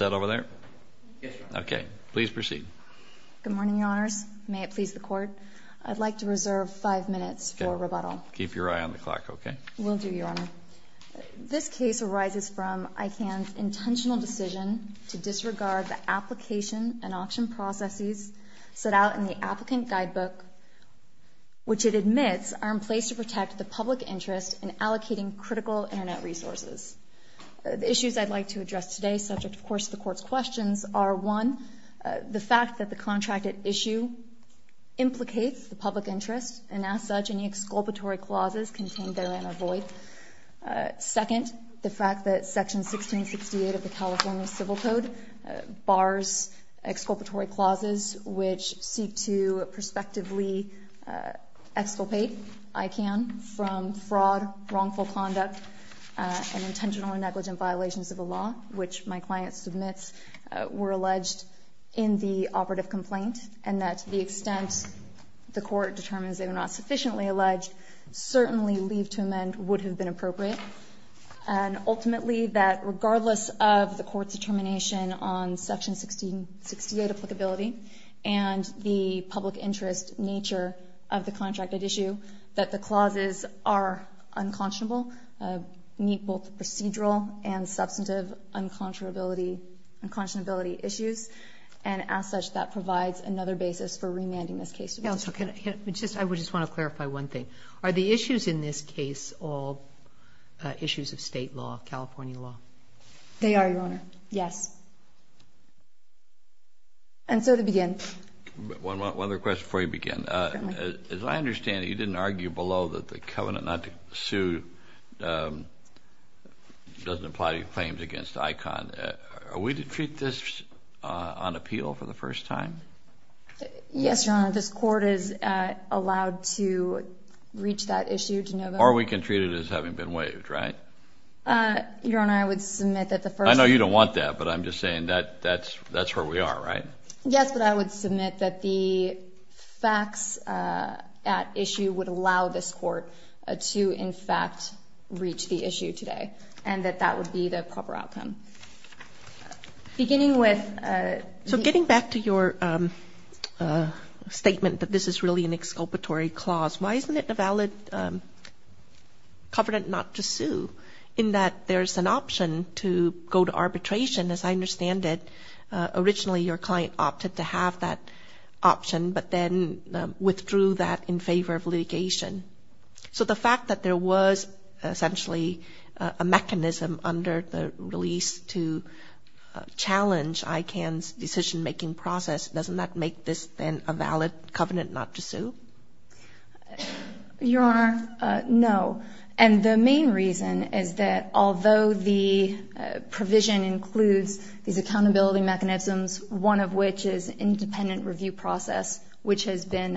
Good morning, Your Honors. May it please the Court, I'd like to reserve five minutes for rebuttal. Keep your eye on the clock, okay? Will do, Your Honor. This case arises from ICANN's intentional decision to disregard the application and auction processes set out in the Applicant Guidebook, which it admits are in place to protect the public interest in allocating critical Internet resources. The issues I'd like to address today, subject of course to the Court's questions, are one, the fact that the contracted issue implicates the public interest, and as such, any exculpatory clauses contained therein are void. Second, the fact that Section 1668 of the California Civil Code bars exculpatory clauses which seek to prospectively exculpate ICANN from fraud, wrongful conduct, and intentional or negligent violations of the law, which my client submits were alleged in the operative complaint, and that to the extent the Court determines they were not sufficiently alleged, certainly leave to amend would have been appropriate. And ultimately, that regardless of the Court's determination on Section 1668 applicability and the public interest nature of the contracted issue, that the clauses are unconscionable, meet both the procedural and substantive unconscionability issues, and as such, that provides another basis for Justice Sotomayor, I would just want to clarify one thing. Are the issues in this case all They are, Your Honor. Yes. And so to begin. One more question before you begin. As I understand it, you didn't argue below that the covenant not to sue doesn't apply to claims against ICANN. Are we to treat this on appeal for the first time? Yes, Your Honor. This Court is allowed to reach that issue to know that. Or we can treat it as having been waived, right? Your Honor, I would submit that the first. I know you don't want that, but I'm just saying that's where we are, right? Yes, but I would submit that the facts at issue would allow this Court to, in fact, reach the issue today, and that that would be the proper outcome. Beginning with. So getting back to your statement that this is really an exculpatory clause, why isn't it a valid covenant not to sue in that there's an option to go to arbitration? As I understand it, originally your client opted to have that option, but then withdrew that in favor of litigation. So the fact that there was essentially a mechanism under the release to challenge ICANN's decision-making process, doesn't that make this then a valid covenant not to sue? Your Honor, no. And the main reason is that although the provision includes these accountability mechanisms, one of which is independent review process, which has been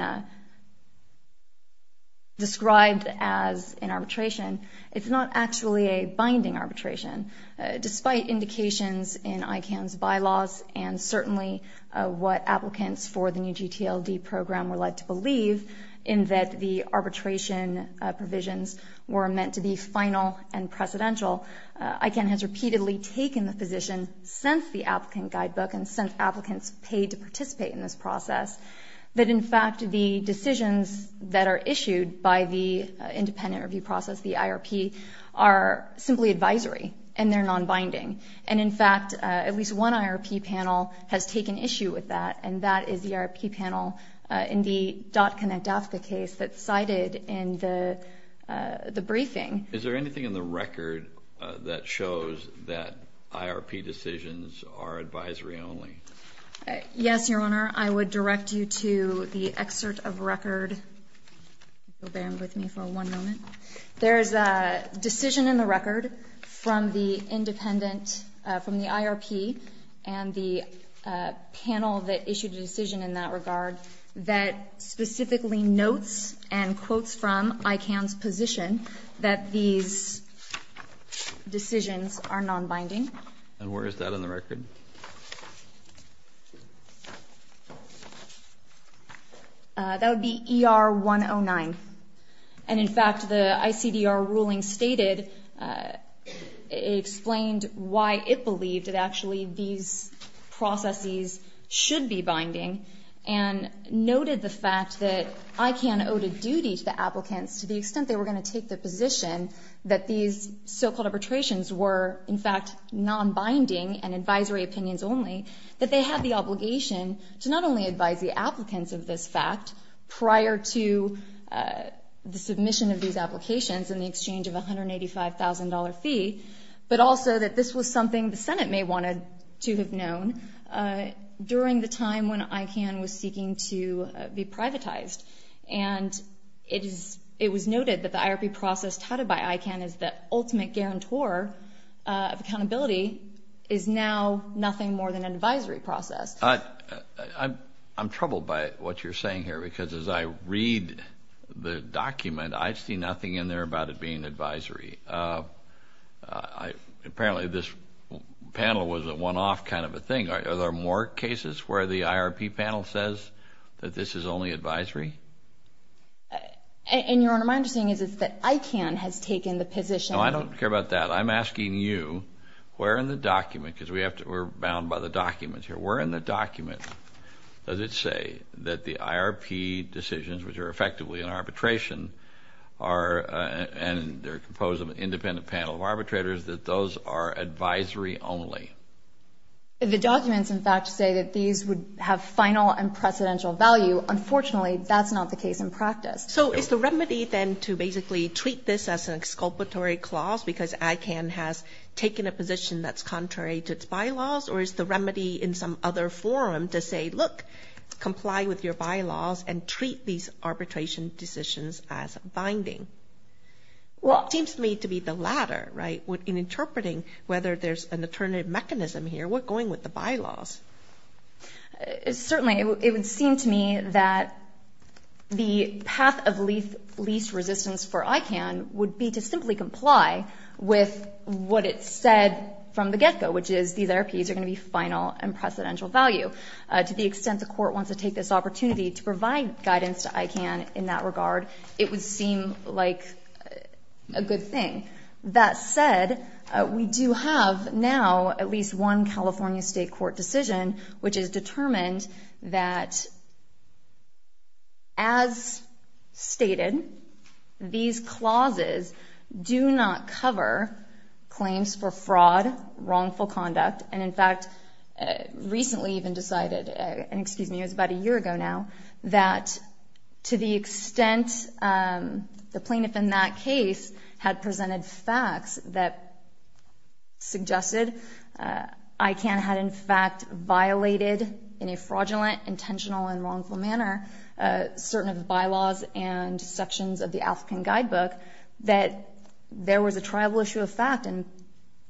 described as an arbitration, it's not actually a binding arbitration. Despite indications in ICANN's bylaws and certainly what applicants for the new GTLD program were led to believe in that the arbitration provisions were meant to be final and precedential, ICANN has repeatedly taken the position since the applicant guidebook and since applicants paid to participate in this process that, in fact, the decisions that are issued by the independent review process, the IRP, are simply advisory and they're non-binding. And in fact, at least one IRP panel has taken issue with that, and that is the IRP panel in the DotConnect-AFCA case that's cited in the briefing. Is there anything in the record that shows that IRP decisions are advisory only? Yes, Your Honor. I would direct you to the excerpt of record. Bear with me for one moment. There is a decision in the record from the independent, from the IRP and the panel that issued a decision in that regard that specifically notes and quotes from ICANN's position that these decisions are non-binding. And where is that in the record? That would be ER-109. And in fact, the ICDR ruling stated, explained why it believed that actually these processes should be binding and noted the fact that ICANN owed a duty to the applicants to the extent they were going to take the arbitrations were, in fact, non-binding and advisory opinions only, that they had the obligation to not only advise the applicants of this fact prior to the submission of these applications in the exchange of a $185,000 fee, but also that this was something the Senate may have wanted to have known during the time when ICANN was seeking to be privatized. And it was noted that the IRP process touted by ICANN as the ultimate guarantor of accountability is now nothing more than an advisory process. I'm troubled by what you're saying here because as I read the document, I see nothing in there about it being advisory. Apparently this panel was a one-off kind of a thing. Are there more cases where the IRP panel says that this is only advisory? And, Your Honor, my understanding is that ICANN has taken the position... No, I don't care about that. I'm asking you, where in the document, because we're bound by the documents here, where in the document does it say that the IRP decisions, which are effectively an arbitration, and they're composed of an independent panel of arbitrators, that those are advisory only? The documents, in fact, say that these would have final and precedential value. Unfortunately, that's not the case in practice. So is the remedy then to basically treat this as an exculpatory clause because ICANN has taken a position that's contrary to its bylaws? Or is the remedy in some other forum to say, look, comply with your bylaws and treat these arbitration decisions as binding? Well... It seems to me to be the latter, right? In interpreting whether there's an alternative mechanism here, what's going with the bylaws? Certainly, it would seem to me that the path of least resistance for ICANN would be to simply comply with what it said from the get-go, which is these IRPs are going to be final and precedential value. To the extent the Court wants to take this opportunity to provide guidance to ICANN in that regard, it would seem like a good thing. That said, we do have now at least one California State Court decision, which has determined that as stated, these clauses do not cover claims for fraud, wrongful conduct, and in that to the extent the plaintiff in that case had presented facts that suggested ICANN had in fact violated in a fraudulent, intentional, and wrongful manner certain of the bylaws and sections of the African Guidebook, that there was a tribal issue of fact and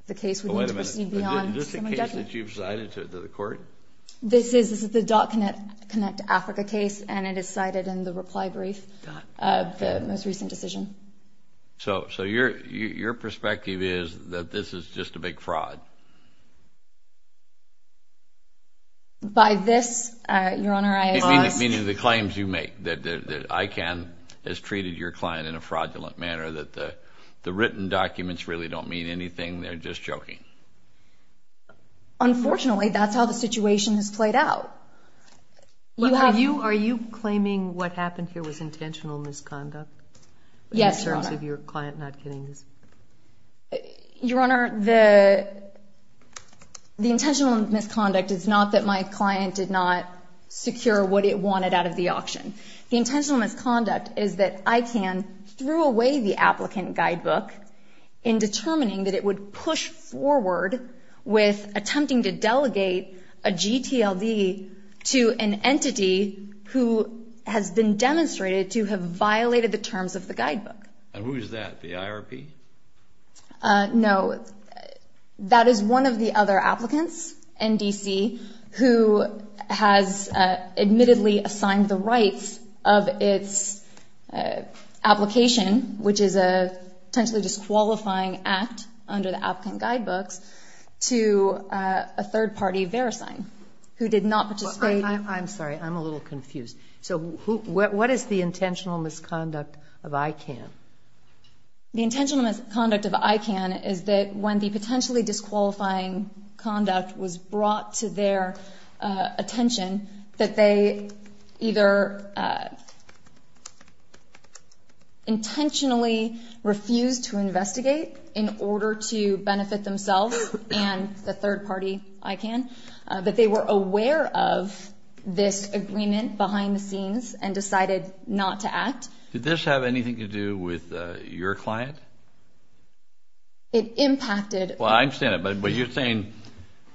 the case would need to proceed beyond semi-judgment. Wait a minute. Isn't this the case that you've presided to the Court? This is the .Connect Africa case, and it is cited in the reply brief of the most recent decision. So your perspective is that this is just a big fraud? By this, Your Honor, I ask... You mean the claims you make, that ICANN has treated your client in a fraudulent manner, that the written documents really don't mean anything, they're just joking? Unfortunately, that's how the situation has played out. Are you claiming what happened here was intentional misconduct? Yes, Your Honor. In terms of your client not getting his... Your Honor, the intentional misconduct is not that my client did not secure what it wanted out of the auction. The intentional misconduct is that ICANN threw away the applicant guidebook in determining that it would push forward with attempting to delegate a GTLD to an entity who has been demonstrated to have violated the terms of the guidebook. And who is that, the IRP? No, that is one of the other applicants, NDC, who has admittedly assigned the rights of its application, which is a potentially disqualifying act under the applicant guidebooks, to a third-party verisign, who did not participate... I'm sorry, I'm a little confused. So what is the intentional misconduct of ICANN? The intentional misconduct of ICANN is that when the potentially disqualifying conduct was brought to their attention, that they either intentionally refused to investigate in order to benefit themselves and the third party, ICANN, but they were aware of this agreement behind the scenes and decided not to act. Did this have anything to do with your client? It impacted... Well, I understand it, but you're saying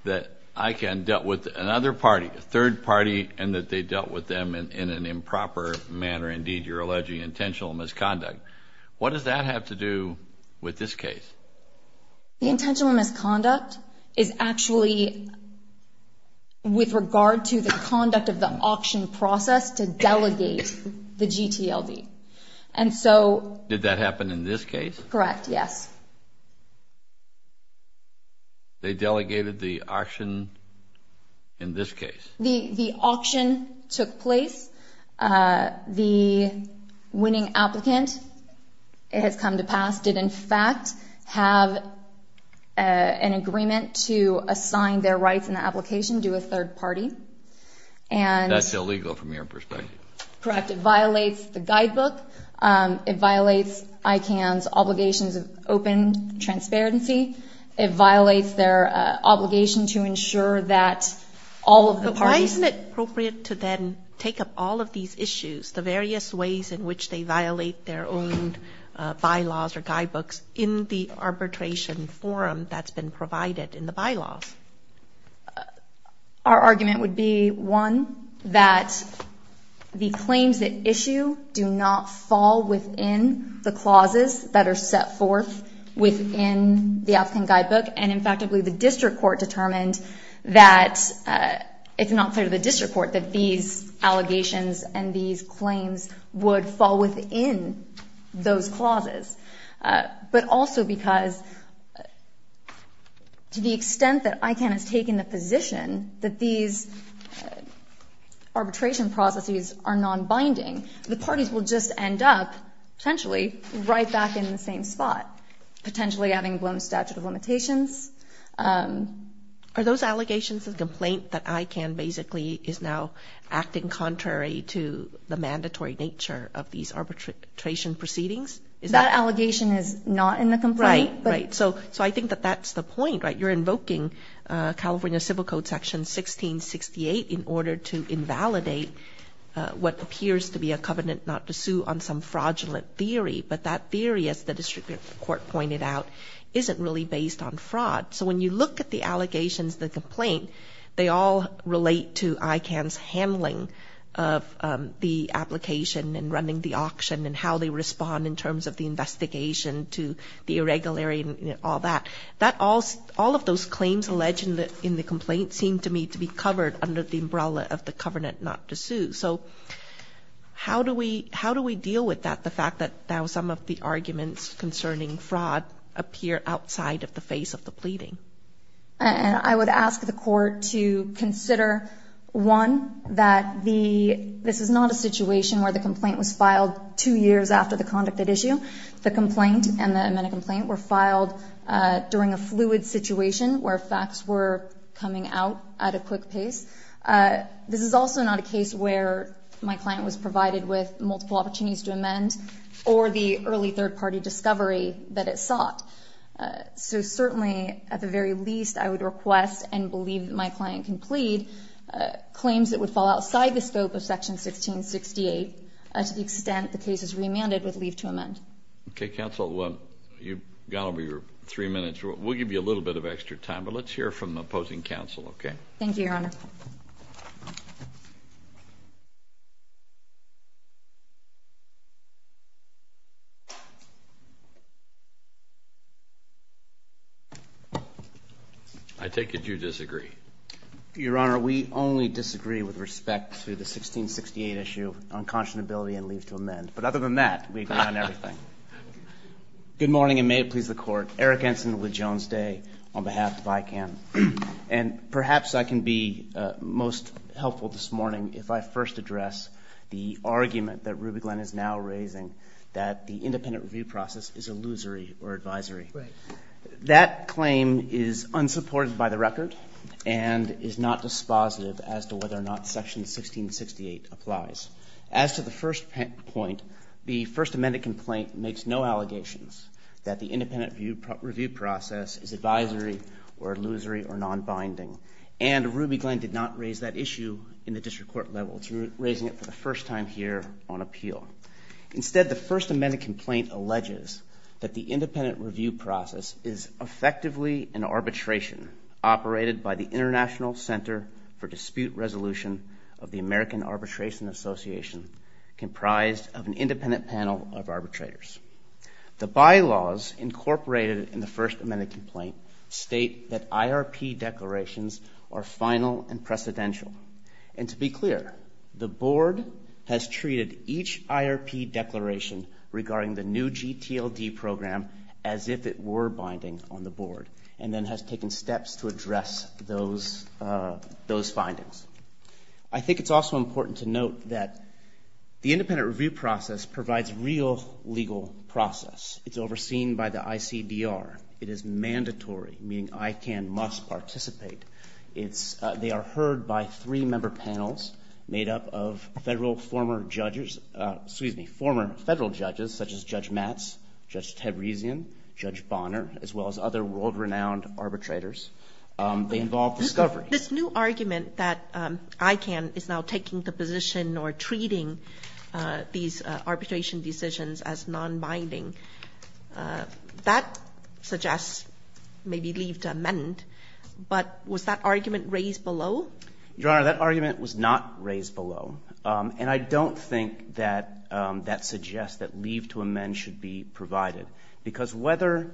that ICANN dealt with another party, a third party, and that they dealt with them in an improper manner. Indeed, you're alleging intentional misconduct. What does that have to do with this case? The intentional misconduct is actually with regard to the conduct of the auction process to delegate the GTLD. Did that happen in this case? Correct, yes. They delegated the auction in this case? The auction took place. The winning applicant has come to pass, did in fact have an agreement to assign their rights in the application to a third party. That's illegal from your perspective. Correct. It violates the guidebook. It violates ICANN's obligations of open transparency. It violates their obligation to ensure that all of the parties... Why isn't it appropriate to then take up all of these issues, the various ways in which they violate their own bylaws or guidebooks in the arbitration forum that's been provided in the bylaws? Our argument would be, one, that the claims that issue do not fall within the clauses that are set forth within the applicant guidebook. And in fact, I believe the district court determined that it's not fair to the district court that these allegations and these claims would fall within those clauses. But also because to the extent that ICANN has taken the position that these arbitration processes are non-binding, the parties will just end up potentially right back in the same spot, potentially having blown statute of limitations. Are those allegations of complaint that ICANN basically is now acting contrary to the mandatory nature of these arbitration proceedings? That allegation is not in the complaint. Right, right. So I think that that's the point, right? You're invoking California Civil Code Section 1668 in order to invalidate what appears to be a covenant not to sue on some fraudulent theory. But that theory, as the district court pointed out, isn't really based on fraud. So when you look at the allegations, the complaint, they all relate to ICANN's handling of the application and running the auction and how they respond in terms of the investigation to the irregularity and all that. All of those claims alleged in the complaint seem to me to be covered under the umbrella of the covenant not to sue. So how do we deal with the fact that now some of the arguments concerning fraud appear outside of the face of the pleading? And I would ask the court to consider, one, that this is not a situation where the complaint was filed two years after the conduct at issue. The complaint and the amended complaint were filed during a fluid situation where facts were coming out at a quick pace. This is also not a case where my client was provided with multiple opportunities to amend or the early third-party discovery that it sought. So certainly, at the very least, I would request and believe that my client can plead claims that would fall outside the scope of Section 1668 to the extent the case is remanded with leave to amend. Okay, counsel. You've gone over your three minutes. We'll give you a little bit of extra time, but let's hear from the opposing counsel, okay? Thank you, Your Honor. I take it you disagree. Your Honor, we only disagree with respect to the 1668 issue on conscionability and leave to amend. But other than that, we agree on everything. Good morning, and may it please the Court. Eric Ensign with Jones Day on behalf of ICANN. And perhaps I can be most helpful this morning if I first address the argument that Ruby Glenn is now raising, that the independent review process is illusory or advisory. Right. That claim is unsupported by the record and is not dispositive as to whether or not Section 1668 applies. As to the first point, the First Amendment complaint makes no allegations that the independent review process is advisory or illusory or nonbinding. And Ruby Glenn did not raise that issue in the district court level. She was raising it for the first time here on appeal. Instead, the First Amendment complaint alleges that the independent review process is effectively an arbitration operated by the International Center for Dispute Resolution of the American Arbitration Association, comprised of an independent panel of arbitrators. The bylaws incorporated in the First Amendment complaint state that IRP declarations are final and precedential. And to be clear, the board has treated each IRP declaration regarding the new GTLD program as if it were binding on the board and then has taken steps to address those findings. I think it's also important to note that the independent review process provides real legal process. It's overseen by the ICDR. It is mandatory, meaning ICANN must participate. It's they are heard by three member panels made up of Federal former judges, excuse me, former Federal judges such as Judge Matz, Judge Taborisian, Judge Bonner, as well as other world-renowned arbitrators. They involve discovery. This new argument that ICANN is now taking the position or treating these arbitration decisions as nonbinding, that suggests maybe leave to amend. But was that argument raised below? Your Honor, that argument was not raised below. And I don't think that that suggests that leave to amend should be provided. Because whether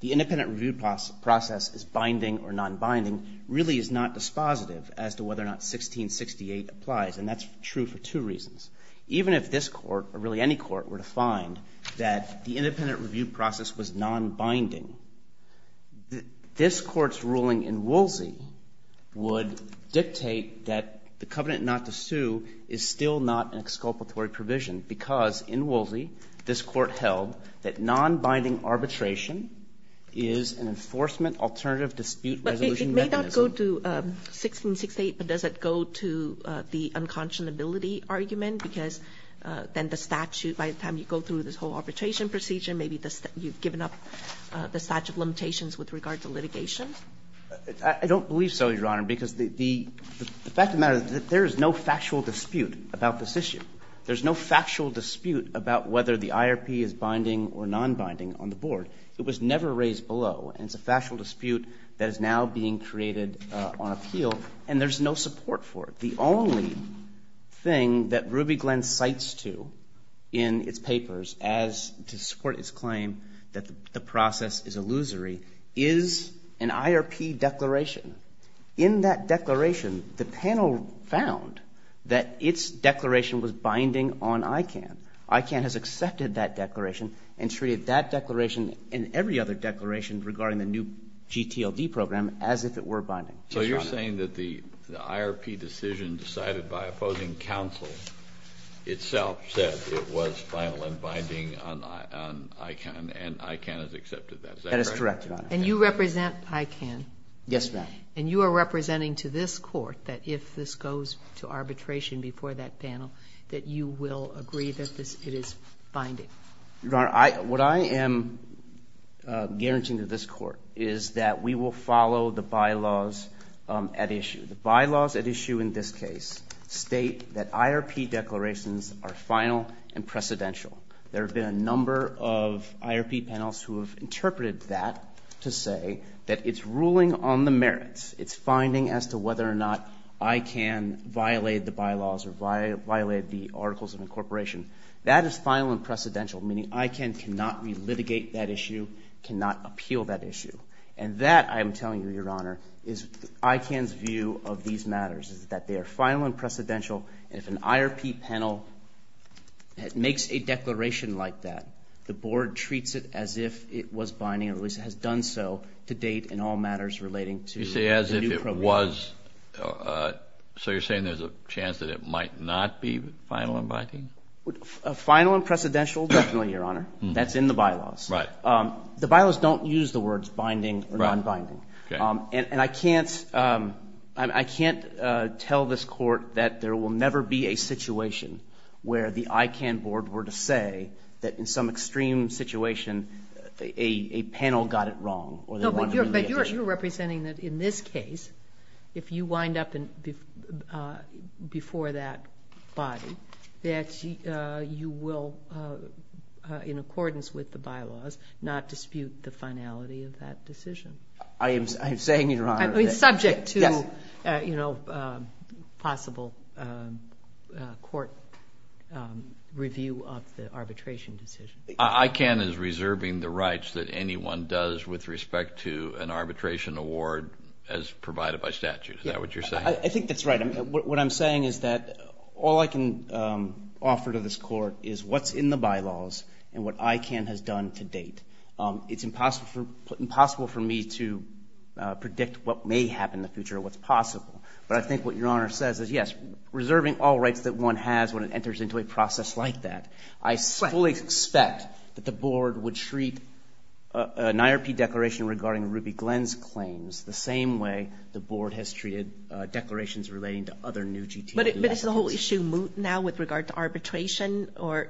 the independent review process is binding or nonbinding really is not dispositive as to whether or not 1668 applies, and that's true for two reasons. Even if this Court or really any court were to find that the independent review process was nonbinding, this Court's ruling in Woolsey would dictate that the covenant not to sue is still not an exculpatory provision. Because in Woolsey, this Court held that nonbinding arbitration is an enforcement alternative dispute resolution mechanism. But it may not go to 1668, but does it go to the unconscionability argument? Because then the statute, by the time you go through this whole arbitration procedure, maybe you've given up the statute of limitations with regard to litigation? I don't believe so, Your Honor, because the fact of the matter is that there is no factual dispute about this issue. There's no factual dispute about whether the IRP is binding or nonbinding on the board. It was never raised below, and it's a factual dispute that is now being created on appeal, and there's no support for it. The only thing that Ruby Glen cites to in its papers as to support its claim that the process is illusory is an IRP declaration. In that declaration, the panel found that its declaration was binding on ICANN. ICANN has accepted that declaration and treated that declaration and every other declaration regarding the new GTLD program as if it were binding. So you're saying that the IRP decision decided by opposing counsel itself said it was final and binding on ICANN, and ICANN has accepted that? That is correct, Your Honor. And you represent ICANN? Yes, ma'am. And you are representing to this Court that if this goes to arbitration before that panel, that you will agree that it is binding? Your Honor, what I am guaranteeing to this Court is that we will follow the bylaws at issue. The bylaws at issue in this case state that IRP declarations are final and precedential. There have been a number of IRP panels who have interpreted that to say that it's ruling on the merits. It's finding as to whether or not ICANN violated the bylaws or violated the articles of incorporation. That is final and precedential, meaning ICANN cannot re-litigate that issue, cannot appeal that issue. And that, I am telling you, Your Honor, is ICANN's view of these matters, is that they are final and precedential, and if an IRP panel makes a declaration like that, the Board treats it as if it was binding, or at least has done so to date in all matters relating to the new program. You say as if it was. So you're saying there's a chance that it might not be final and binding? Final and precedential, definitely, Your Honor. That's in the bylaws. Right. The bylaws don't use the words binding or nonbinding. Right. Okay. And I can't tell this Court that there will never be a situation where the ICANN Board were to say that in some extreme situation a panel got it wrong. No, but you're representing that in this case, if you wind up before that body, that you will, in accordance with the bylaws, not dispute the finality of that decision. I am saying, Your Honor. It's subject to, you know, possible court review of the arbitration decision. ICANN is reserving the rights that anyone does with respect to an arbitration award as provided by statute. Is that what you're saying? I think that's right. What I'm saying is that all I can offer to this Court is what's in the bylaws and what ICANN has done to date. It's impossible for me to predict what may happen in the future or what's possible. But I think what Your Honor says is, yes, reserving all rights that one has when it enters into a process like that. I fully expect that the Board would treat an IRP declaration regarding Ruby Glenn's claims the same way the Board has treated declarations relating to other new GTE applications. But is the whole issue moot now with regard to arbitration? Or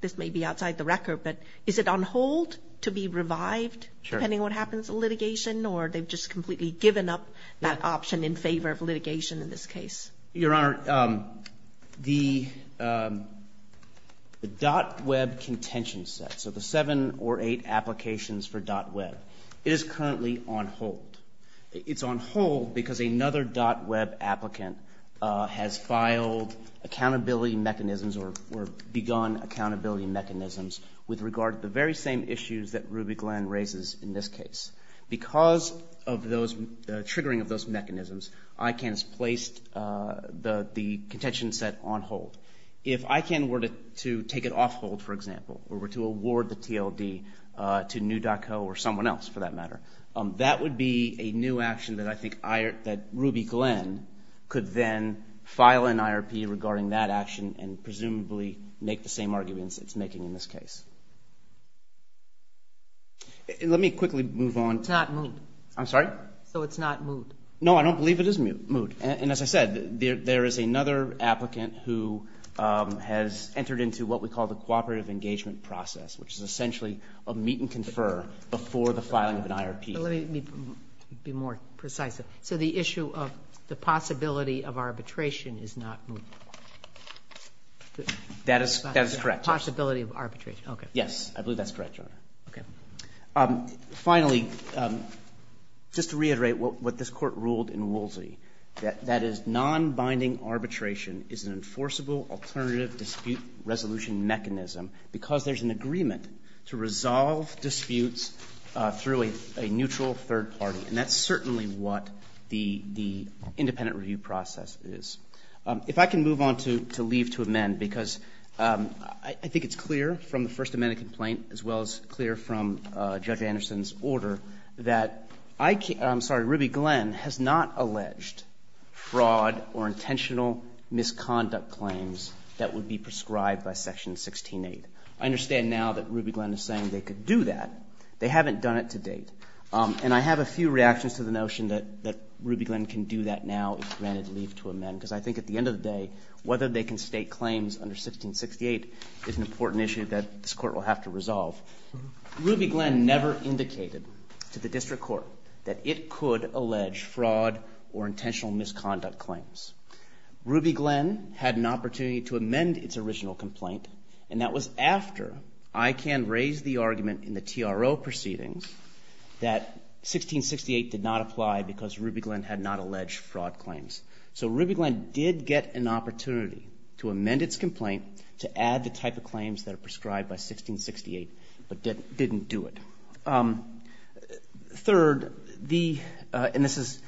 this may be outside the record, but is it on hold to be revived depending on what happens in litigation, or they've just completely given up that option in favor of litigation in this case? Your Honor, the .web contention set, so the seven or eight applications for .web, it is currently on hold. It's on hold because another .web applicant has filed accountability mechanisms or begun accountability mechanisms with regard to the very same issues that Ruby Glenn raises in this case. Because of the triggering of those mechanisms, ICANN has placed the contention set on hold. If ICANN were to take it off hold, for example, or were to award the TLD to New.co or someone else, for that matter, that would be a new action that I think Ruby Glenn could then file an IRP regarding that action and presumably make the same arguments it's making in this case. Let me quickly move on. It's not moot. I'm sorry? So it's not moot. No, I don't believe it is moot. And as I said, there is another applicant who has entered into what we call the filing of an IRP. Let me be more precise. So the issue of the possibility of arbitration is not moot. That is correct. Possibility of arbitration. Okay. Yes. I believe that's correct, Your Honor. Okay. Finally, just to reiterate what this Court ruled in Woolsey, that is, nonbinding arbitration is an enforceable alternative dispute resolution mechanism because there's an agreement to resolve disputes through a neutral third party. And that's certainly what the independent review process is. If I can move on to leave to amend because I think it's clear from the First Amendment complaint as well as clear from Judge Anderson's order that I can't – I'm sorry, Ruby Glenn has not alleged fraud or intentional misconduct claims that would be prescribed by Section 16.8. I understand now that Ruby Glenn is saying they could do that. They haven't done it to date. And I have a few reactions to the notion that Ruby Glenn can do that now if granted leave to amend because I think at the end of the day, whether they can state claims under 16.68 is an important issue that this Court will have to resolve. Ruby Glenn never indicated to the district court that it could allege fraud or intentional misconduct claims. Ruby Glenn had an opportunity to amend its original complaint and that was after ICANN raised the argument in the TRO proceedings that 16.68 did not apply because Ruby Glenn had not alleged fraud claims. So Ruby Glenn did get an opportunity to amend its complaint to add the type of claims that are prescribed by 16.68 but didn't do it. Third, the – and this is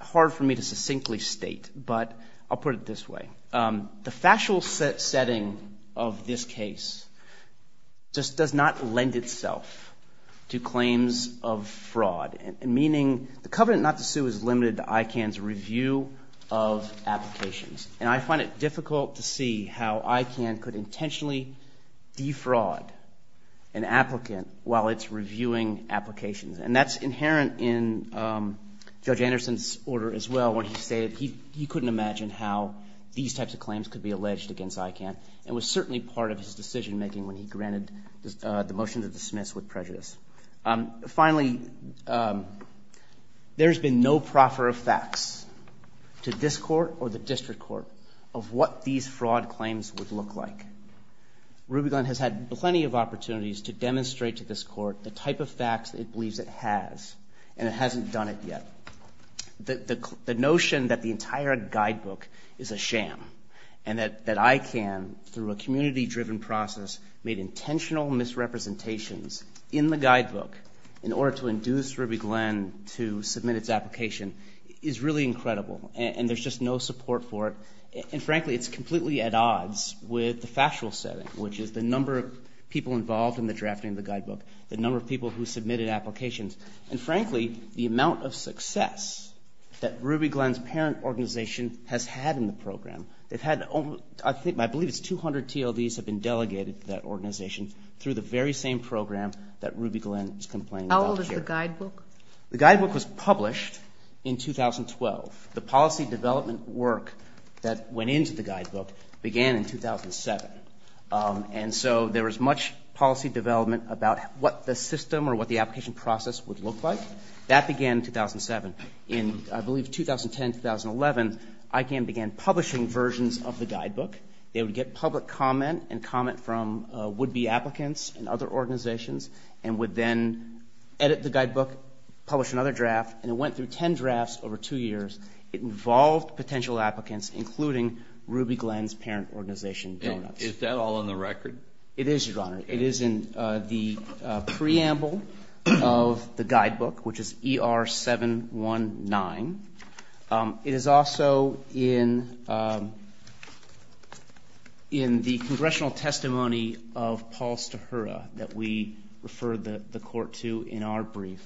hard for me to succinctly state, but I'll put it this way. The factual setting of this case just does not lend itself to claims of fraud, meaning the covenant not to sue is limited to ICANN's review of applications. And I find it difficult to see how ICANN could intentionally defraud an applicant while it's reviewing applications. And that's inherent in Judge Anderson's order as well when he stated he couldn't imagine how these types of claims could be alleged against ICANN and was certainly part of his decision making when he granted the motion to dismiss with prejudice. Finally, there's been no proffer of facts to this Court or the district court of what these fraud claims would look like. Ruby Glenn has had plenty of opportunities to demonstrate to this Court the type of facts it believes it has, and it hasn't done it yet. The notion that the entire guidebook is a sham and that ICANN, through a community-driven process, made intentional misrepresentations in the guidebook in order to induce Ruby Glenn to submit its application is really incredible. And there's just no support for it. And frankly, it's completely at odds with the factual setting, which is the number of people involved in the drafting of the guidebook, the number of people who submitted applications, and frankly, the amount of success that Ruby Glenn's parent organization has had in the program. They've had, I believe it's 200 TLDs have been delegated to that organization through the very same program that Ruby Glenn is complaining about here. How old is the guidebook? The guidebook was published in 2012. The policy development work that went into the guidebook began in 2007. And so there was much policy development about what the system or what the application process would look like. That began in 2007. In, I believe, 2010, 2011, ICANN began publishing versions of the guidebook. They would get public comment and comment from would-be applicants and other organizations and would then edit the guidebook, publish another draft, and it went through 10 drafts over two years. It involved potential applicants, including Ruby Glenn's parent organization, Donuts. Is that all on the record? It is, Your Honor. It is in the preamble of the guidebook, which is ER-719. It is also in the congressional testimony of Paul Stahura that we refer the court to in our brief,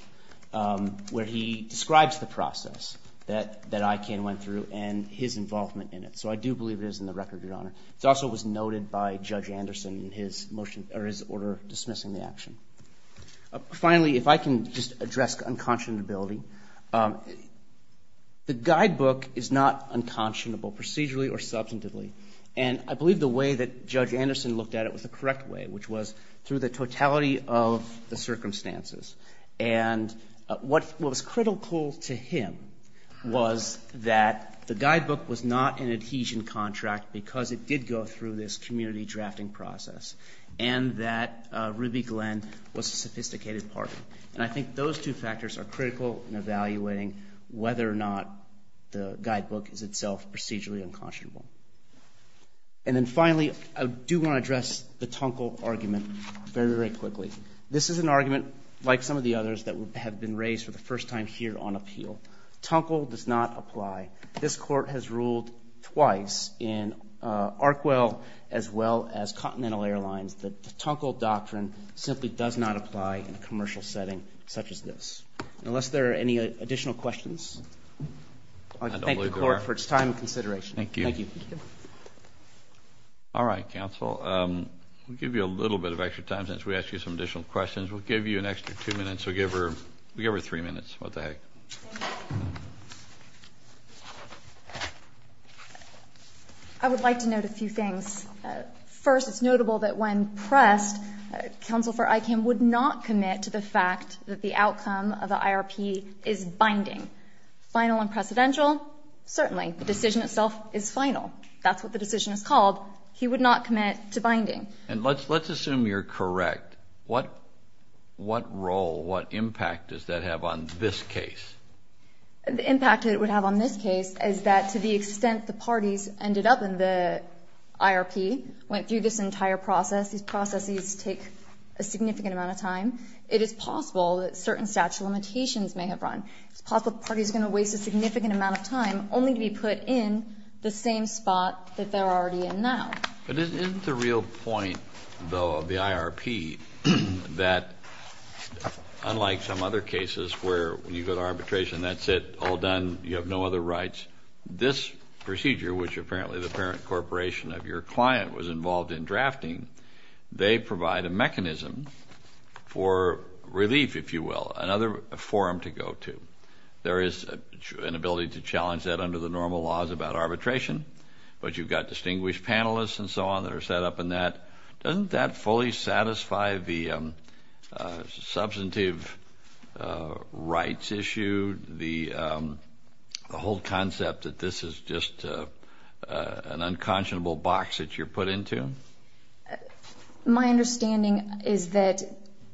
where he describes the process that ICANN went through and his involvement in it. So I do believe it is in the record, Your Honor. It also was noted by Judge Anderson in his order dismissing the action. Finally, if I can just address unconscionability, the guidebook is not unconscionable procedurally or substantively. And I believe the way that Judge Anderson looked at it was the correct way, which was through the totality of the circumstances. And what was critical to him was that the guidebook was not an adhesion contract because it did go through this community drafting process and that Ruby Glenn was a sophisticated partner. And I think those two factors are critical in evaluating whether or not the guidebook is itself procedurally unconscionable. And then finally, I do want to address the Tunkel argument very, very quickly. This is an argument like some of the others that have been raised for the first time here on appeal. Tunkel does not apply. This court has ruled twice in Arquell as well as Continental Airlines that the Tunkel doctrine simply does not apply in a commercial setting such as this. Unless there are any additional questions, I thank the court for its time and consideration. Thank you. Thank you. All right, counsel. We'll give you a little bit of extra time since we asked you some additional questions. We'll give you an extra two minutes. We'll give her three minutes. What the heck. Thank you. I would like to note a few things. First, it's notable that when pressed, counsel for ICAM would not commit to the fact that the outcome of the IRP is binding. Final and precedential? Certainly. The decision itself is final. That's what the decision is called. He would not commit to binding. And let's assume you're correct. What role, what impact does that have on this case? The impact it would have on this case is that to the extent the parties ended up in the IRP, went through this entire process, these processes take a significant amount of time, it is possible that certain statute of limitations may have run. It's possible the party's going to waste a significant amount of time only to be put in the same spot that they're already in now. But isn't the real point, though, of the IRP that unlike some other cases where you go to arbitration, that's it, all done, you have no other rights, this procedure, which apparently the parent corporation of your client was involved in drafting, they provide a mechanism for relief, if you will, another forum to go to. There is an ability to challenge that under the normal laws about arbitration, but you've got distinguished panelists and so on that are set up in that. Doesn't that fully satisfy the substantive rights issue, the whole concept that this is just an unconscionable box that you're put into? My understanding is that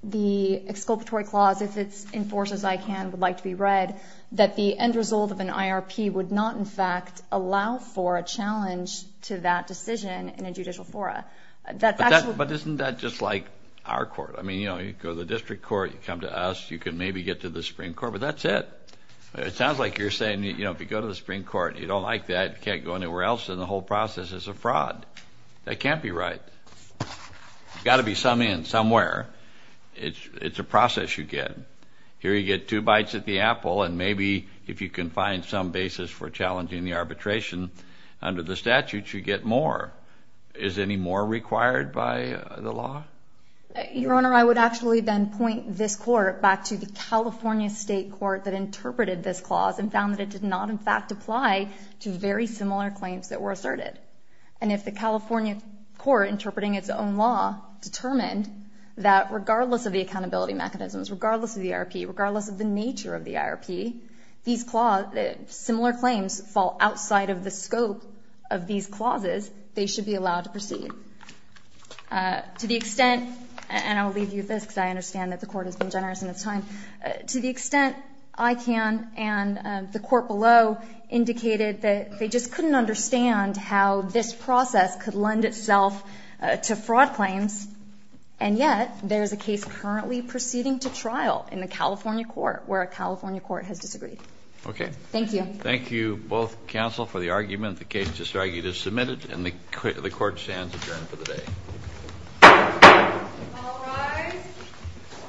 the exculpatory clause, if it's enforced as I can, would like to be read, that the end result of an IRP would not, in fact, allow for a challenge to that decision in a judicial fora. But isn't that just like our court? I mean, you know, you go to the district court, you come to us, you can maybe get to the Supreme Court, but that's it. It sounds like you're saying, you know, if you go to the Supreme Court, you don't like that, you can't go anywhere else, and the whole process is a fraud. That can't be right. There's got to be some end somewhere. It's a process you get. Here you get two bites at the apple, and maybe if you can find some basis for challenging the arbitration under the statute, you get more. Is any more required by the law? Your Honor, I would actually then point this court back to the California state court that interpreted this clause and found that it did not, in fact, apply to very similar claims that were asserted. And if the California court, interpreting its own law, determined that regardless of the accountability mechanisms, regardless of the IRP, regardless of the nature of the IRP, these similar claims fall outside of the scope of these clauses, they should be allowed to proceed. To the extent, and I'll leave you with this because I understand that the court has been generous in its time, to the extent ICANN and the court below indicated that they just couldn't understand how this process could lend itself to fraud claims, and yet there is a case currently proceeding to trial in the California court where a California court has disagreed. Okay. Thank you. Thank you both, counsel, for the argument. The case disargued is submitted, and the court stands adjourned for the day. All rise.